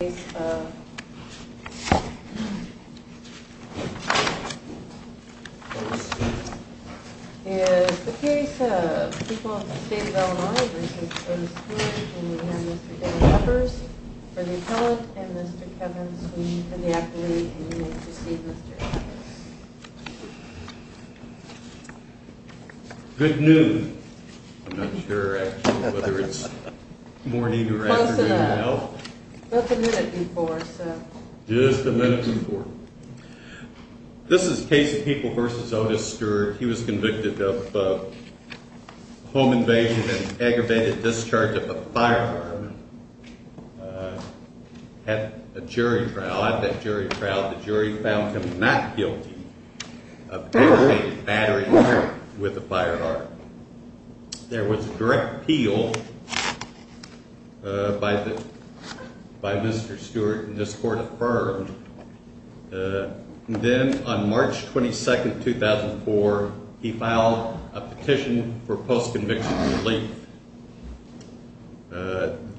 is the case of people in the state of Illinois v. Otis Stewart and we have Mr. Dan Huffers for the appellate and Mr. Kevin Sweeney for the athlete and you may proceed Mr. Huffers. Good noon. I'm not sure actually whether it's morning or afternoon now. Just a minute before. This is the case of people v. Otis Stewart. He was convicted of home invasion and aggravated discharge of a firearm. Had a jury trial. At that jury trial the jury found him not guilty of aggravated battery with a firearm. There was direct appeal by Mr. Stewart and this court affirmed. Then on March 22, 2004, he filed a petition for post-conviction relief.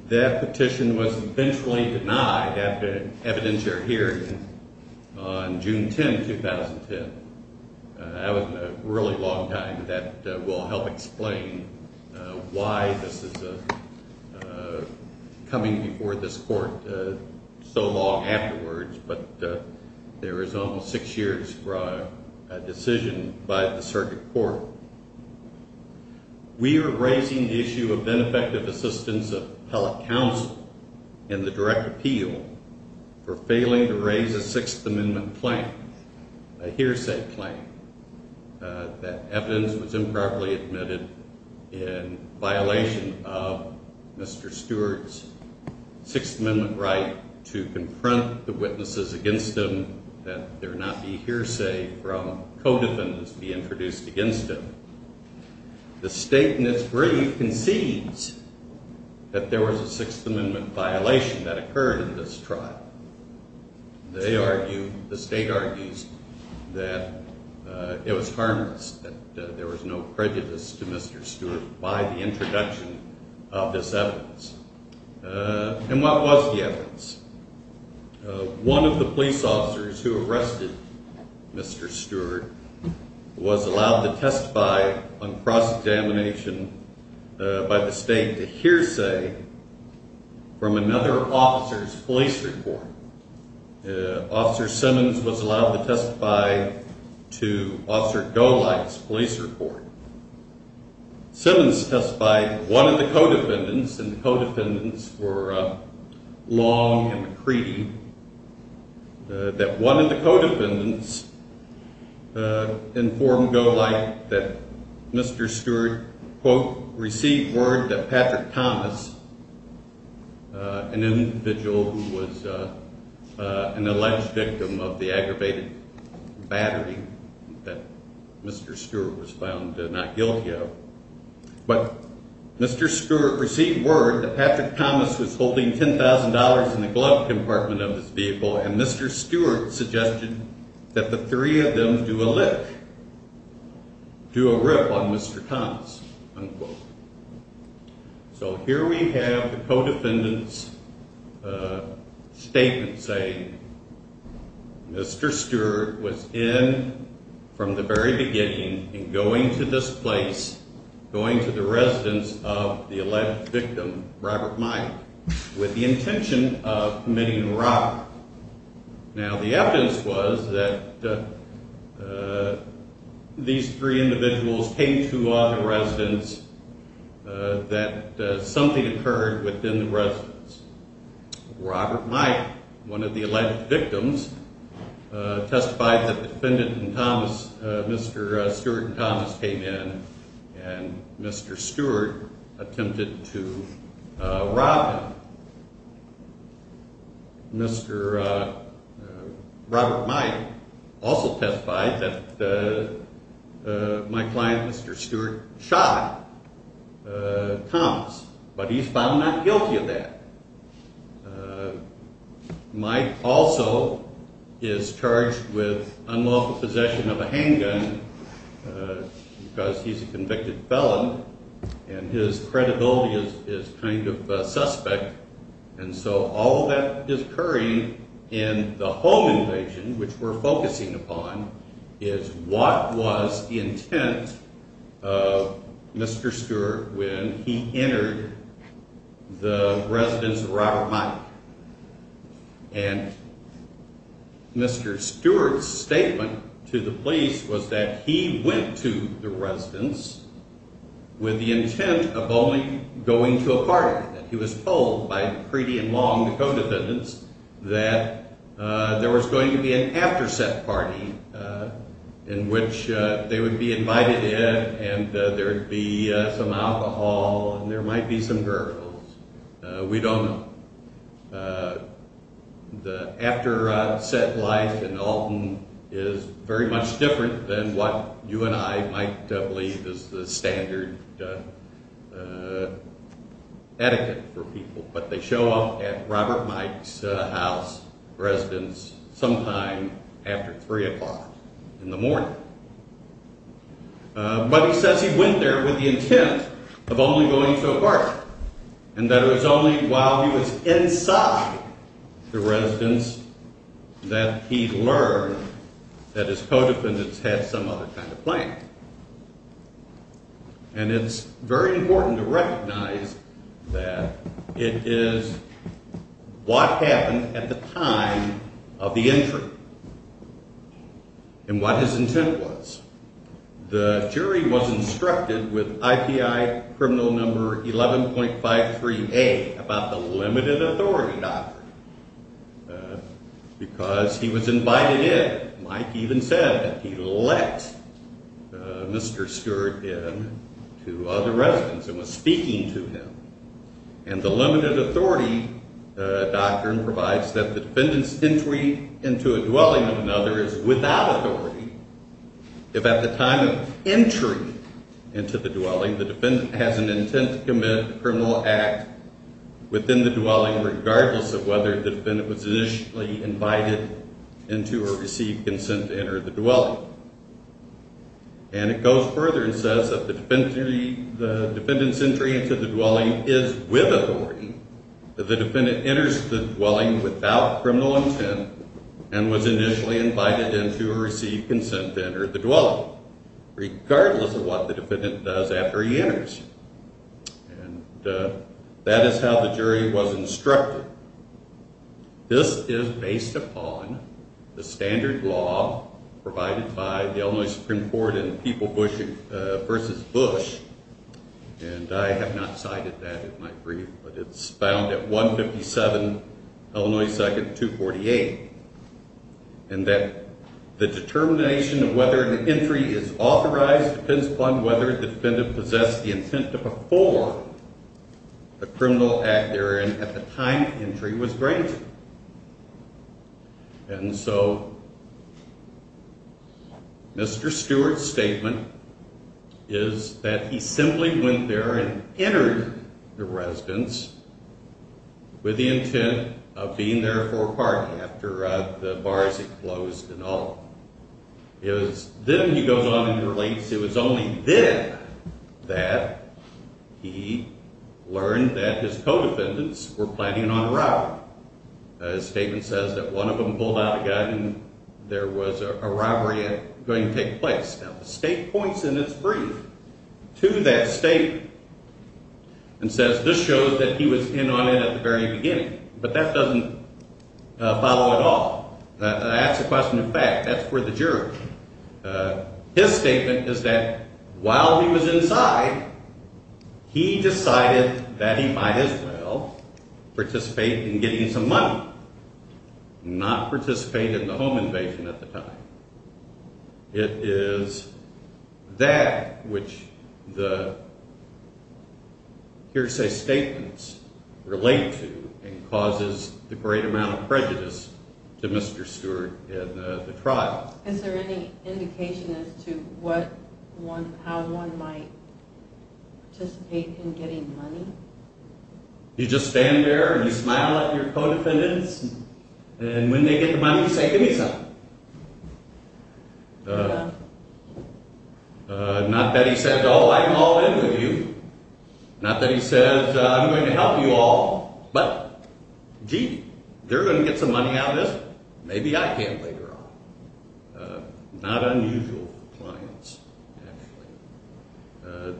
That petition was eventually denied after an evidentiary hearing on June 10, 2010. That was a really long time. That will help explain why this is coming before this court so long afterwards. But there is almost six years for a decision by the circuit court. We are raising the issue of benefective assistance of appellate counsel and the direct appeal for failing to raise a Sixth Amendment claim. A hearsay claim that evidence was improperly admitted in violation of Mr. Stewart's Sixth Amendment right to confront the witnesses against him. That there not be hearsay from co-defendants to be introduced against him. The state in its brief concedes that there was a Sixth Amendment violation that occurred in this trial. They argue, the state argues, that it was harmless, that there was no prejudice to Mr. Stewart by the introduction of this evidence. And what was the evidence? One of the police officers who arrested Mr. Stewart was allowed to testify on cross-examination by the state to hearsay from another officer's police report. Officer Simmons was allowed to testify to Officer Golight's police report. Simmons testified that one of the co-defendants, and the co-defendants were Long and McCready, that one of the co-defendants informed Golight that Mr. Stewart, quote, received word that Patrick Thomas, an individual who was an alleged victim of the aggravated battering that Mr. Stewart was found not guilty of, but Mr. Stewart received word that Patrick Thomas was holding $10,000 in the glove compartment of his vehicle, and Mr. Stewart suggested that the three of them do a lick, do a rip on Mr. Thomas, unquote. So here we have the co-defendant's statement saying, Mr. Stewart was in from the very beginning and going to this place, going to the residence of the alleged victim, Robert Mike, with the intention of committing robbery. Now, the evidence was that these three individuals came to the residence that something occurred within the residence. Robert Mike, one of the alleged victims, testified that the defendant and Thomas, Mr. Stewart and Thomas came in, and Mr. Stewart attempted to rob him. Mr. Robert Mike also testified that my client, Mr. Stewart, shot Thomas, but he's found not guilty of that. Mike also is charged with unlawful possession of a handgun because he's a convicted felon, and his credibility is kind of suspect. And so all that is occurring in the home invasion, which we're focusing upon, is what was the intent of Mr. Stewart when he entered the residence of Robert Mike. And Mr. Stewart's statement to the police was that he went to the residence with the intent of only going to a party. He was told by Preeti and Long, the co-defendants, that there was going to be an after-set party in which they would be invited in, and there would be some alcohol, and there might be some girls. We don't know. The after-set life in Alton is very much different than what you and I might believe is the standard etiquette for people, but they show up at Robert Mike's house residence sometime after 3 o'clock in the morning. But he says he went there with the intent of only going to a party, and that it was only while he was inside the residence that he learned that his co-defendants had some other kind of plan. And it's very important to recognize that it is what happened at the time of the entry, and what his intent was. The jury was instructed with IPI criminal number 11.53A about the limited authority doctrine, because he was invited in. Mike even said that he let Mr. Stewart in to the residence and was speaking to him. And the limited authority doctrine provides that the defendant's entry into a dwelling of another is without authority. If at the time of entry into the dwelling, the defendant has an intent to commit a criminal act within the dwelling, regardless of whether the defendant was initially invited into or received consent to enter the dwelling. And it goes further and says that the defendant's entry into the dwelling is with authority. The defendant enters the dwelling without criminal intent and was initially invited into or received consent to enter the dwelling, regardless of what the defendant does after he enters. And that is how the jury was instructed. This is based upon the standard law provided by the Illinois Supreme Court in People v. Bush. And I have not cited that in my brief, but it's found at 157 Illinois 2nd, 248. And that the determination of whether the entry is authorized depends upon whether the defendant possessed the intent to perform a criminal act there and at the time of entry was granted. And so Mr. Stewart's statement is that he simply went there and entered the residence with the intent of being there for a party after the bars had closed and all. Then he goes on and relates, it was only then that he learned that his co-defendants were planning on a robbery. His statement says that one of them pulled out a gun and there was a robbery going to take place. Now the state points in its brief to that statement and says this shows that he was in on it at the very beginning. But that doesn't follow at all. That's a question of fact. That's for the jury. His statement is that while he was inside, he decided that he might as well participate in getting some money. Not participate in the home invasion at the time. It is that which the hearsay statements relate to and causes the great amount of prejudice to Mr. Stewart in the trial. You just stand there and you smile at your co-defendants and when they get the money you say give me some. Not that he says oh I'm all in with you. Not that he says I'm going to help you all. But gee, they're going to get some money out of this one. Maybe I can later on. Not unusual for clients actually.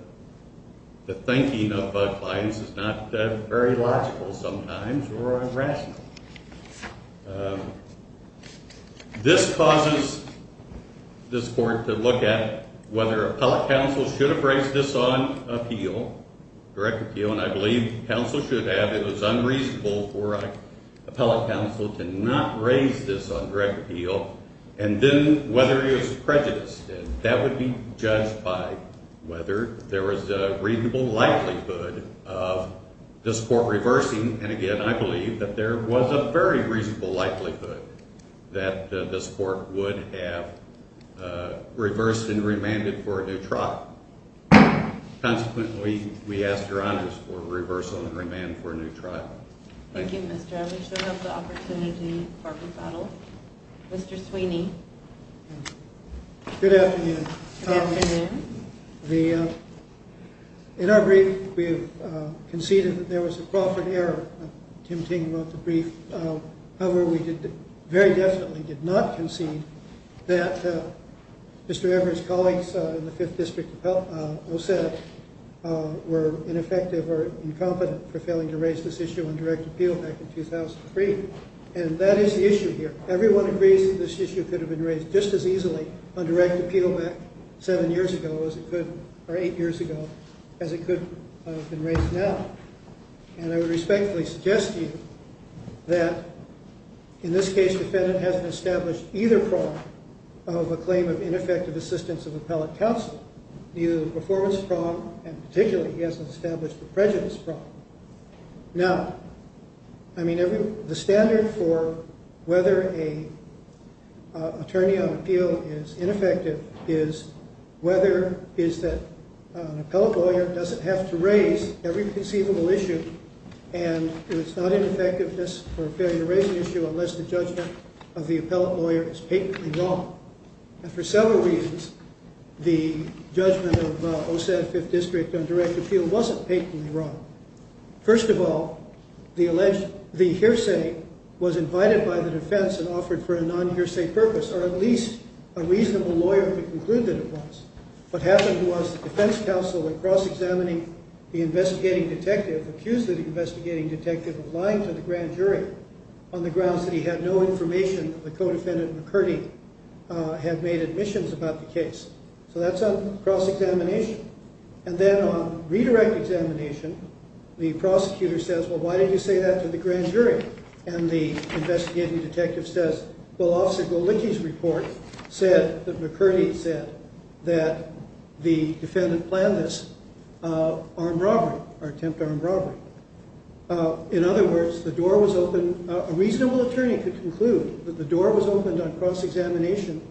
The thinking of clients is not very logical sometimes or irrational. This causes this court to look at whether appellate counsel should have raised this on appeal, direct appeal. And I believe counsel should have. It was unreasonable for appellate counsel to not raise this on direct appeal. And then whether he was prejudiced. And that would be judged by whether there was a reasonable likelihood of this court reversing. And again, I believe that there was a very reasonable likelihood that this court would have reversed and remanded for a new trial. Consequently, we ask your honors for reversal and remand for a new trial. Thank you, Mr. Abbott. We should have the opportunity for a rebuttal. Mr. Sweeney. Good afternoon. Good afternoon. In our brief, we have conceded that there was a Crawford error. Tim Ting wrote the brief. However, we very definitely did not concede that Mr. Everett's colleagues in the 5th District OSEP were ineffective or incompetent for failing to raise this issue on direct appeal back in 2003. And that is the issue here. Everyone agrees that this issue could have been raised just as easily on direct appeal back 7 years ago as it could or 8 years ago as it could have been raised now. And I would respectfully suggest to you that in this case, defendant hasn't established either prong of a claim of ineffective assistance of appellate counsel. Neither the performance prong and particularly he hasn't established the prejudice prong. Now, I mean, the standard for whether an attorney on appeal is ineffective is whether is that an appellate lawyer doesn't have to raise every conceivable issue. And it's not an effectiveness or failure to raise an issue unless the judgment of the appellate lawyer is patently wrong. And for several reasons, the judgment of OSEP 5th District on direct appeal wasn't patently wrong. First of all, the hearsay was invited by the defense and offered for a non-hearsay purpose or at least a reasonable lawyer could conclude that it was. What happened was the defense counsel in cross-examining the investigating detective accused the investigating detective of lying to the grand jury on the grounds that he had no information that the co-defendant and McCurdy had made admissions about the case. So that's on cross-examination. And then on redirect examination, the prosecutor says, well, why did you say that to the grand jury? And the investigating detective says, well, Officer Golicki's report said that McCurdy said that the defendant planned this armed robbery or attempt armed robbery. In other words, the door was open. A reasonable attorney could conclude that the door was opened on cross-examination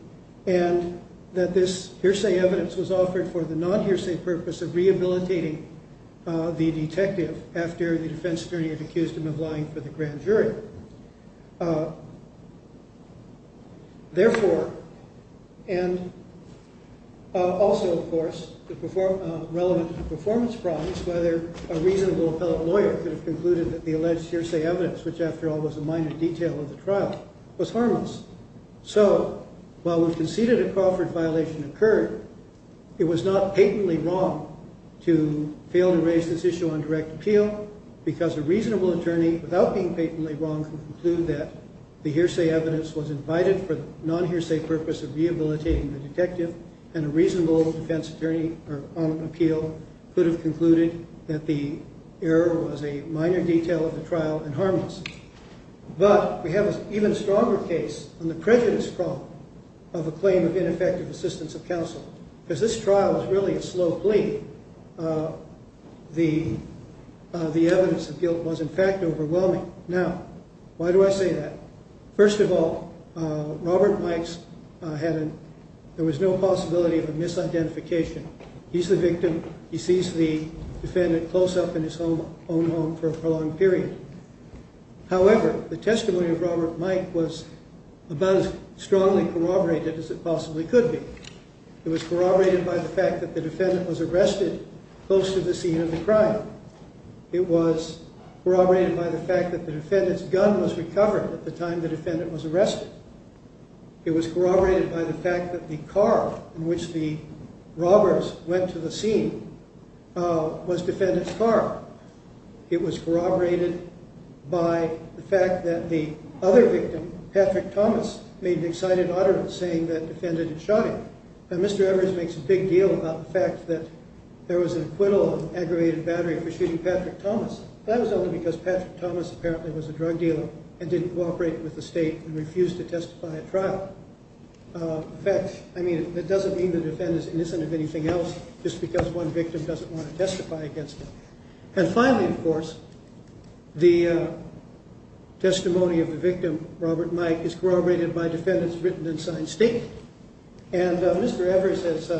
and that this hearsay evidence was offered for the non-hearsay purpose of rehabilitating the detective after the defense attorney had accused him of lying for the grand jury. Therefore, and also, of course, the relevant performance problems, whether a reasonable appellate lawyer could have concluded that the alleged hearsay evidence, which after all was a minor detail of the trial, was harmless. So while we conceded a Crawford violation occurred, it was not patently wrong to fail to raise this issue on direct appeal because a reasonable attorney, without being patently wrong, could conclude that the hearsay evidence was invited for the non-hearsay purpose of rehabilitating the detective. And a reasonable defense attorney on appeal could have concluded that the error was a minor detail of the trial and harmless. But we have an even stronger case on the prejudice problem of a claim of ineffective assistance of counsel. Because this trial was really a slow plea. The evidence of guilt was in fact overwhelming. Now, why do I say that? First of all, Robert Mikes, there was no possibility of a misidentification. He's the victim. He sees the defendant close up in his own home for a prolonged period. However, the testimony of Robert Mike was about as strongly corroborated as it possibly could be. It was corroborated by the fact that the defendant was arrested close to the scene of the crime. It was corroborated by the fact that the defendant's gun was recovered at the time the defendant was arrested. It was corroborated by the fact that the car in which the robbers went to the scene was the defendant's car. It was corroborated by the fact that the other victim, Patrick Thomas, made an excited utterance saying that the defendant had shot him. Now, Mr. Evers makes a big deal about the fact that there was an acquittal of aggravated battery for shooting Patrick Thomas. That was only because Patrick Thomas apparently was a drug dealer and didn't cooperate with the state and refused to testify at trial. In fact, I mean, that doesn't mean the defendant is innocent of anything else just because one victim doesn't want to testify against him. And finally, of course, the testimony of the victim, Robert Mike, is corroborated by defendant's written and signed statement. And Mr. Evers has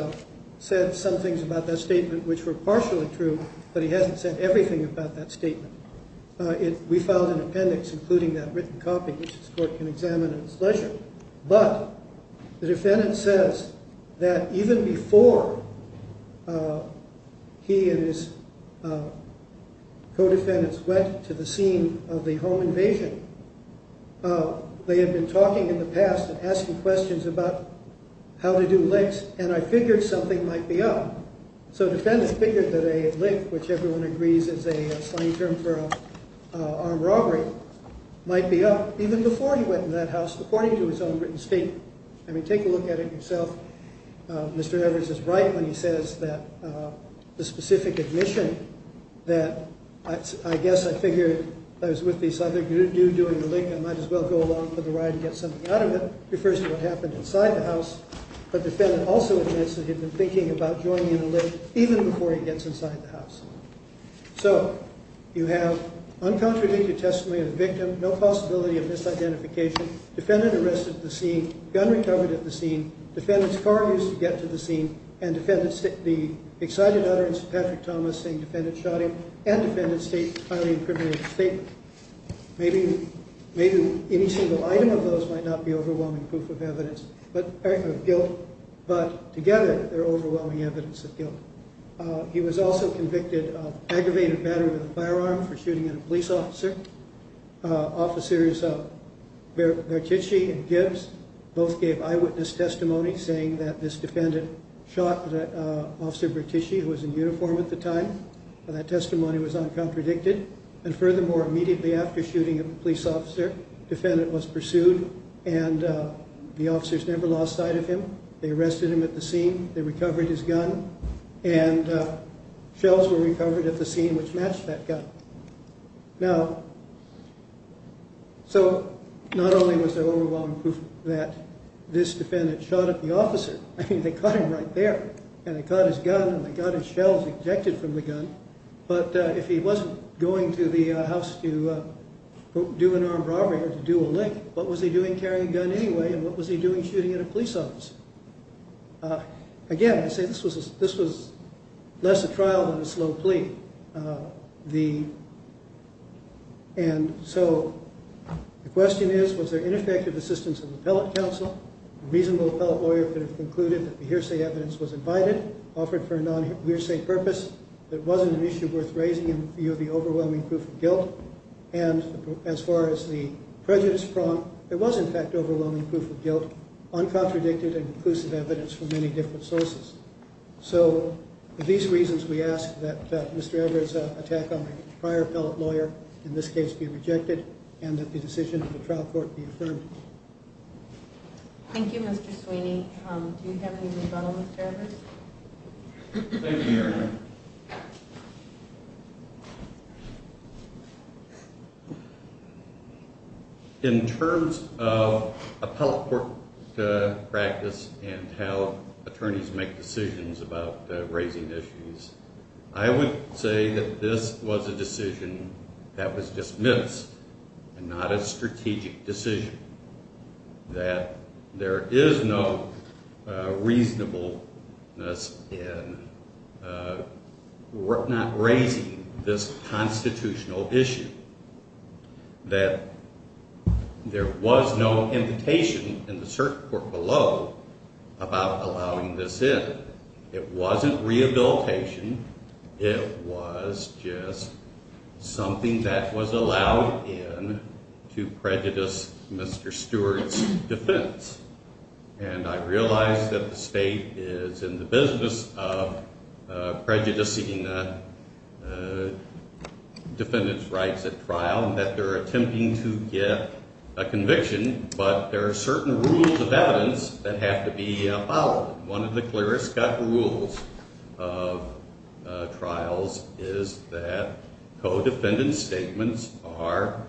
said some things about that statement which were partially true, but he hasn't said everything about that statement. We filed an appendix including that written copy which this court can examine at its leisure. But the defendant says that even before he and his co-defendants went to the scene of the home invasion, they had been talking in the past and asking questions about how to do licks and I figured something might be up. So the defendant figured that a lick, which everyone agrees is a funny term for armed robbery, might be up even before he went in that house according to his own written statement. I mean, take a look at it yourself. Mr. Evers is right when he says that the specific admission that I guess I figured I was with this other dude doing a lick, I might as well go along for the ride and get something out of it, refers to what happened inside the house. But the defendant also admits that he had been thinking about joining in a lick even before he gets inside the house. So you have uncontradicted testimony of the victim, no possibility of misidentification, defendant arrested at the scene, gun recovered at the scene, defendant's car used to get to the scene, and the excited utterance of Patrick Thomas saying defendant shot him, and defendant's highly incriminated statement. Maybe any single item of those might not be overwhelming proof of guilt, but together they're overwhelming evidence of guilt. He was also convicted of aggravated battery with a firearm for shooting at a police officer. Officers Bertucci and Gibbs both gave eyewitness testimony saying that this defendant shot Officer Bertucci, who was in uniform at the time, and that testimony was uncontradicted. And furthermore, immediately after shooting at the police officer, defendant was pursued, and the officers never lost sight of him. They arrested him at the scene, they recovered his gun, and shells were recovered at the scene which matched that gun. Now, so not only was there overwhelming proof that this defendant shot at the officer, I mean they caught him right there, and they caught his gun, and they got his shells ejected from the gun, but if he wasn't going to the house to do an armed robbery or to do a lick, what was he doing carrying a gun anyway, and what was he doing shooting at a police officer? Again, I say this was less a trial than a slow plea. And so the question is, was there ineffective assistance of appellate counsel? A reasonable appellate lawyer could have concluded that the hearsay evidence was invited, offered for a non-hearsay purpose, that it wasn't an issue worth raising in view of the overwhelming proof of guilt, and as far as the prejudice prompt, there was in fact overwhelming proof of guilt, uncontradicted and conclusive evidence from many different sources. So for these reasons we ask that Mr. Evers' attack on the prior appellate lawyer in this case be rejected, and that the decision of the trial court be affirmed. Thank you, Mr. Sweeney. Do you have any rebuttal, Mr. Evers? Thank you, Your Honor. In terms of appellate court practice and how attorneys make decisions about raising issues, I would say that this was a decision that was dismissed and not a strategic decision, that there is no reasonableness in not raising this constitutional issue, that there was no invitation in the circuit court below about allowing this in. It wasn't rehabilitation. It was just something that was allowed in to prejudice Mr. Stewart's defense. And I realize that the state is in the business of prejudicing defendants' rights at trial, and that they're attempting to get a conviction, but there are certain rules of evidence that have to be followed. One of the clearest-cut rules of trials is that co-defendant statements are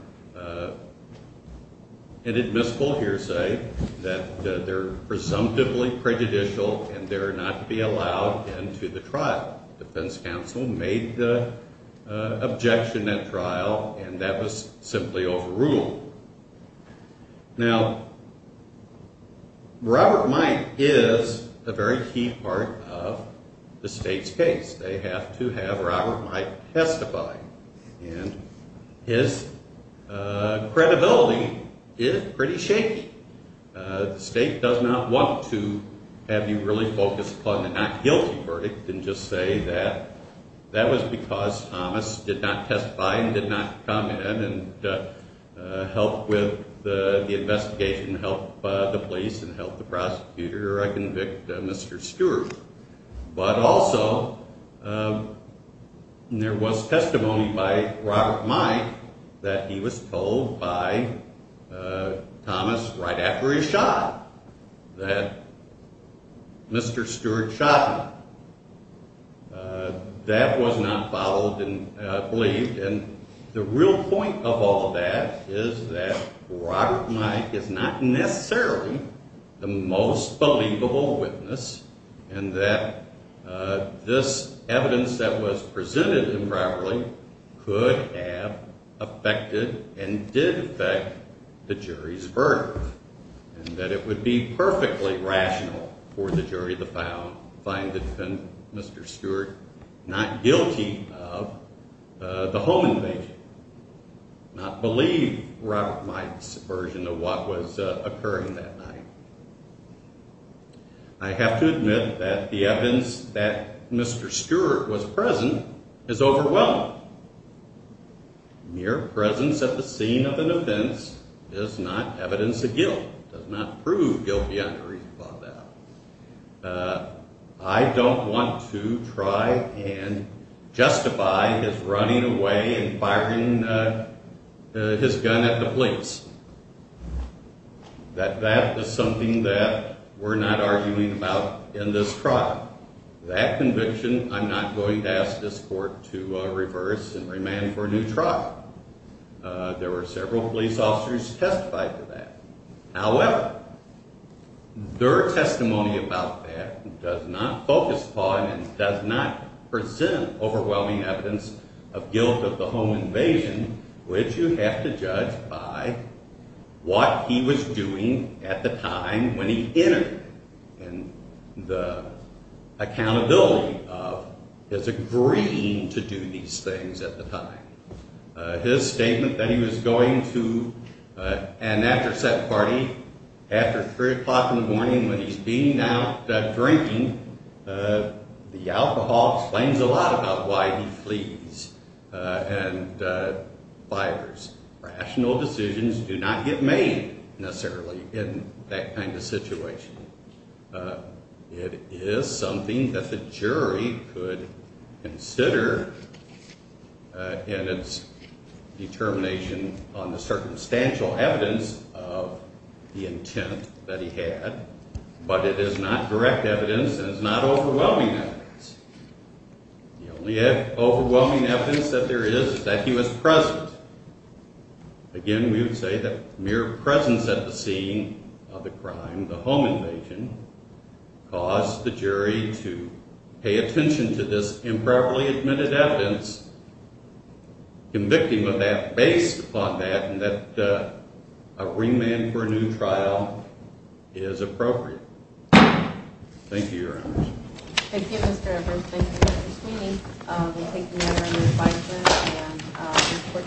an admissible hearsay, that they're presumptively prejudicial, and they're not to be allowed into the trial. Defense counsel made the objection at trial, and that was simply overruled. Now, Robert Mike is a very key part of the state's case. They have to have Robert Mike testify, and his credibility is pretty shaky. The state does not want to have you really focus upon the not guilty verdict and just say that that was because Thomas did not testify and did not come in and help with the investigation, help the police and help the prosecutor reconvict Mr. Stewart. But also, there was testimony by Robert Mike that he was told by Thomas right after he was shot that Mr. Stewart shot him. That was not followed and believed. And the real point of all that is that Robert Mike is not necessarily the most believable witness and that this evidence that was presented improperly could have affected and did affect the jury's verdict and that it would be perfectly rational for the jury to find Mr. Stewart not guilty of the home invasion, not believe Robert Mike's version of what was occurring that night. I have to admit that the evidence that Mr. Stewart was present is overwhelming. Mere presence at the scene of an offense is not evidence of guilt. It does not prove guilty under reason about that. I don't want to try and justify his running away and firing his gun at the police. That is something that we're not arguing about in this trial. That conviction, I'm not going to ask this court to reverse and remand for a new trial. There were several police officers who testified to that. However, their testimony about that does not focus upon and does not present overwhelming evidence of guilt of the home invasion, which you have to judge by what he was doing at the time when he entered. And the accountability of his agreeing to do these things at the time. His statement that he was going to an after set party after 3 o'clock in the morning when he's being out drinking, the alcohol explains a lot about why he flees and fibers. Rational decisions do not get made necessarily in that kind of situation. It is something that the jury could consider in its determination on the circumstantial evidence of the intent that he had. But it is not direct evidence and it's not overwhelming evidence. The only overwhelming evidence that there is is that he was present. Again, we would say that mere presence at the scene of the crime, the home invasion, caused the jury to pay attention to this improperly admitted evidence. Convicting of that based upon that and that a remand for a new trial is appropriate. Thank you, Your Honors. Thank you, Mr. Edwards. Thank you, Mr. Sweeney. Thank you, Your Honor.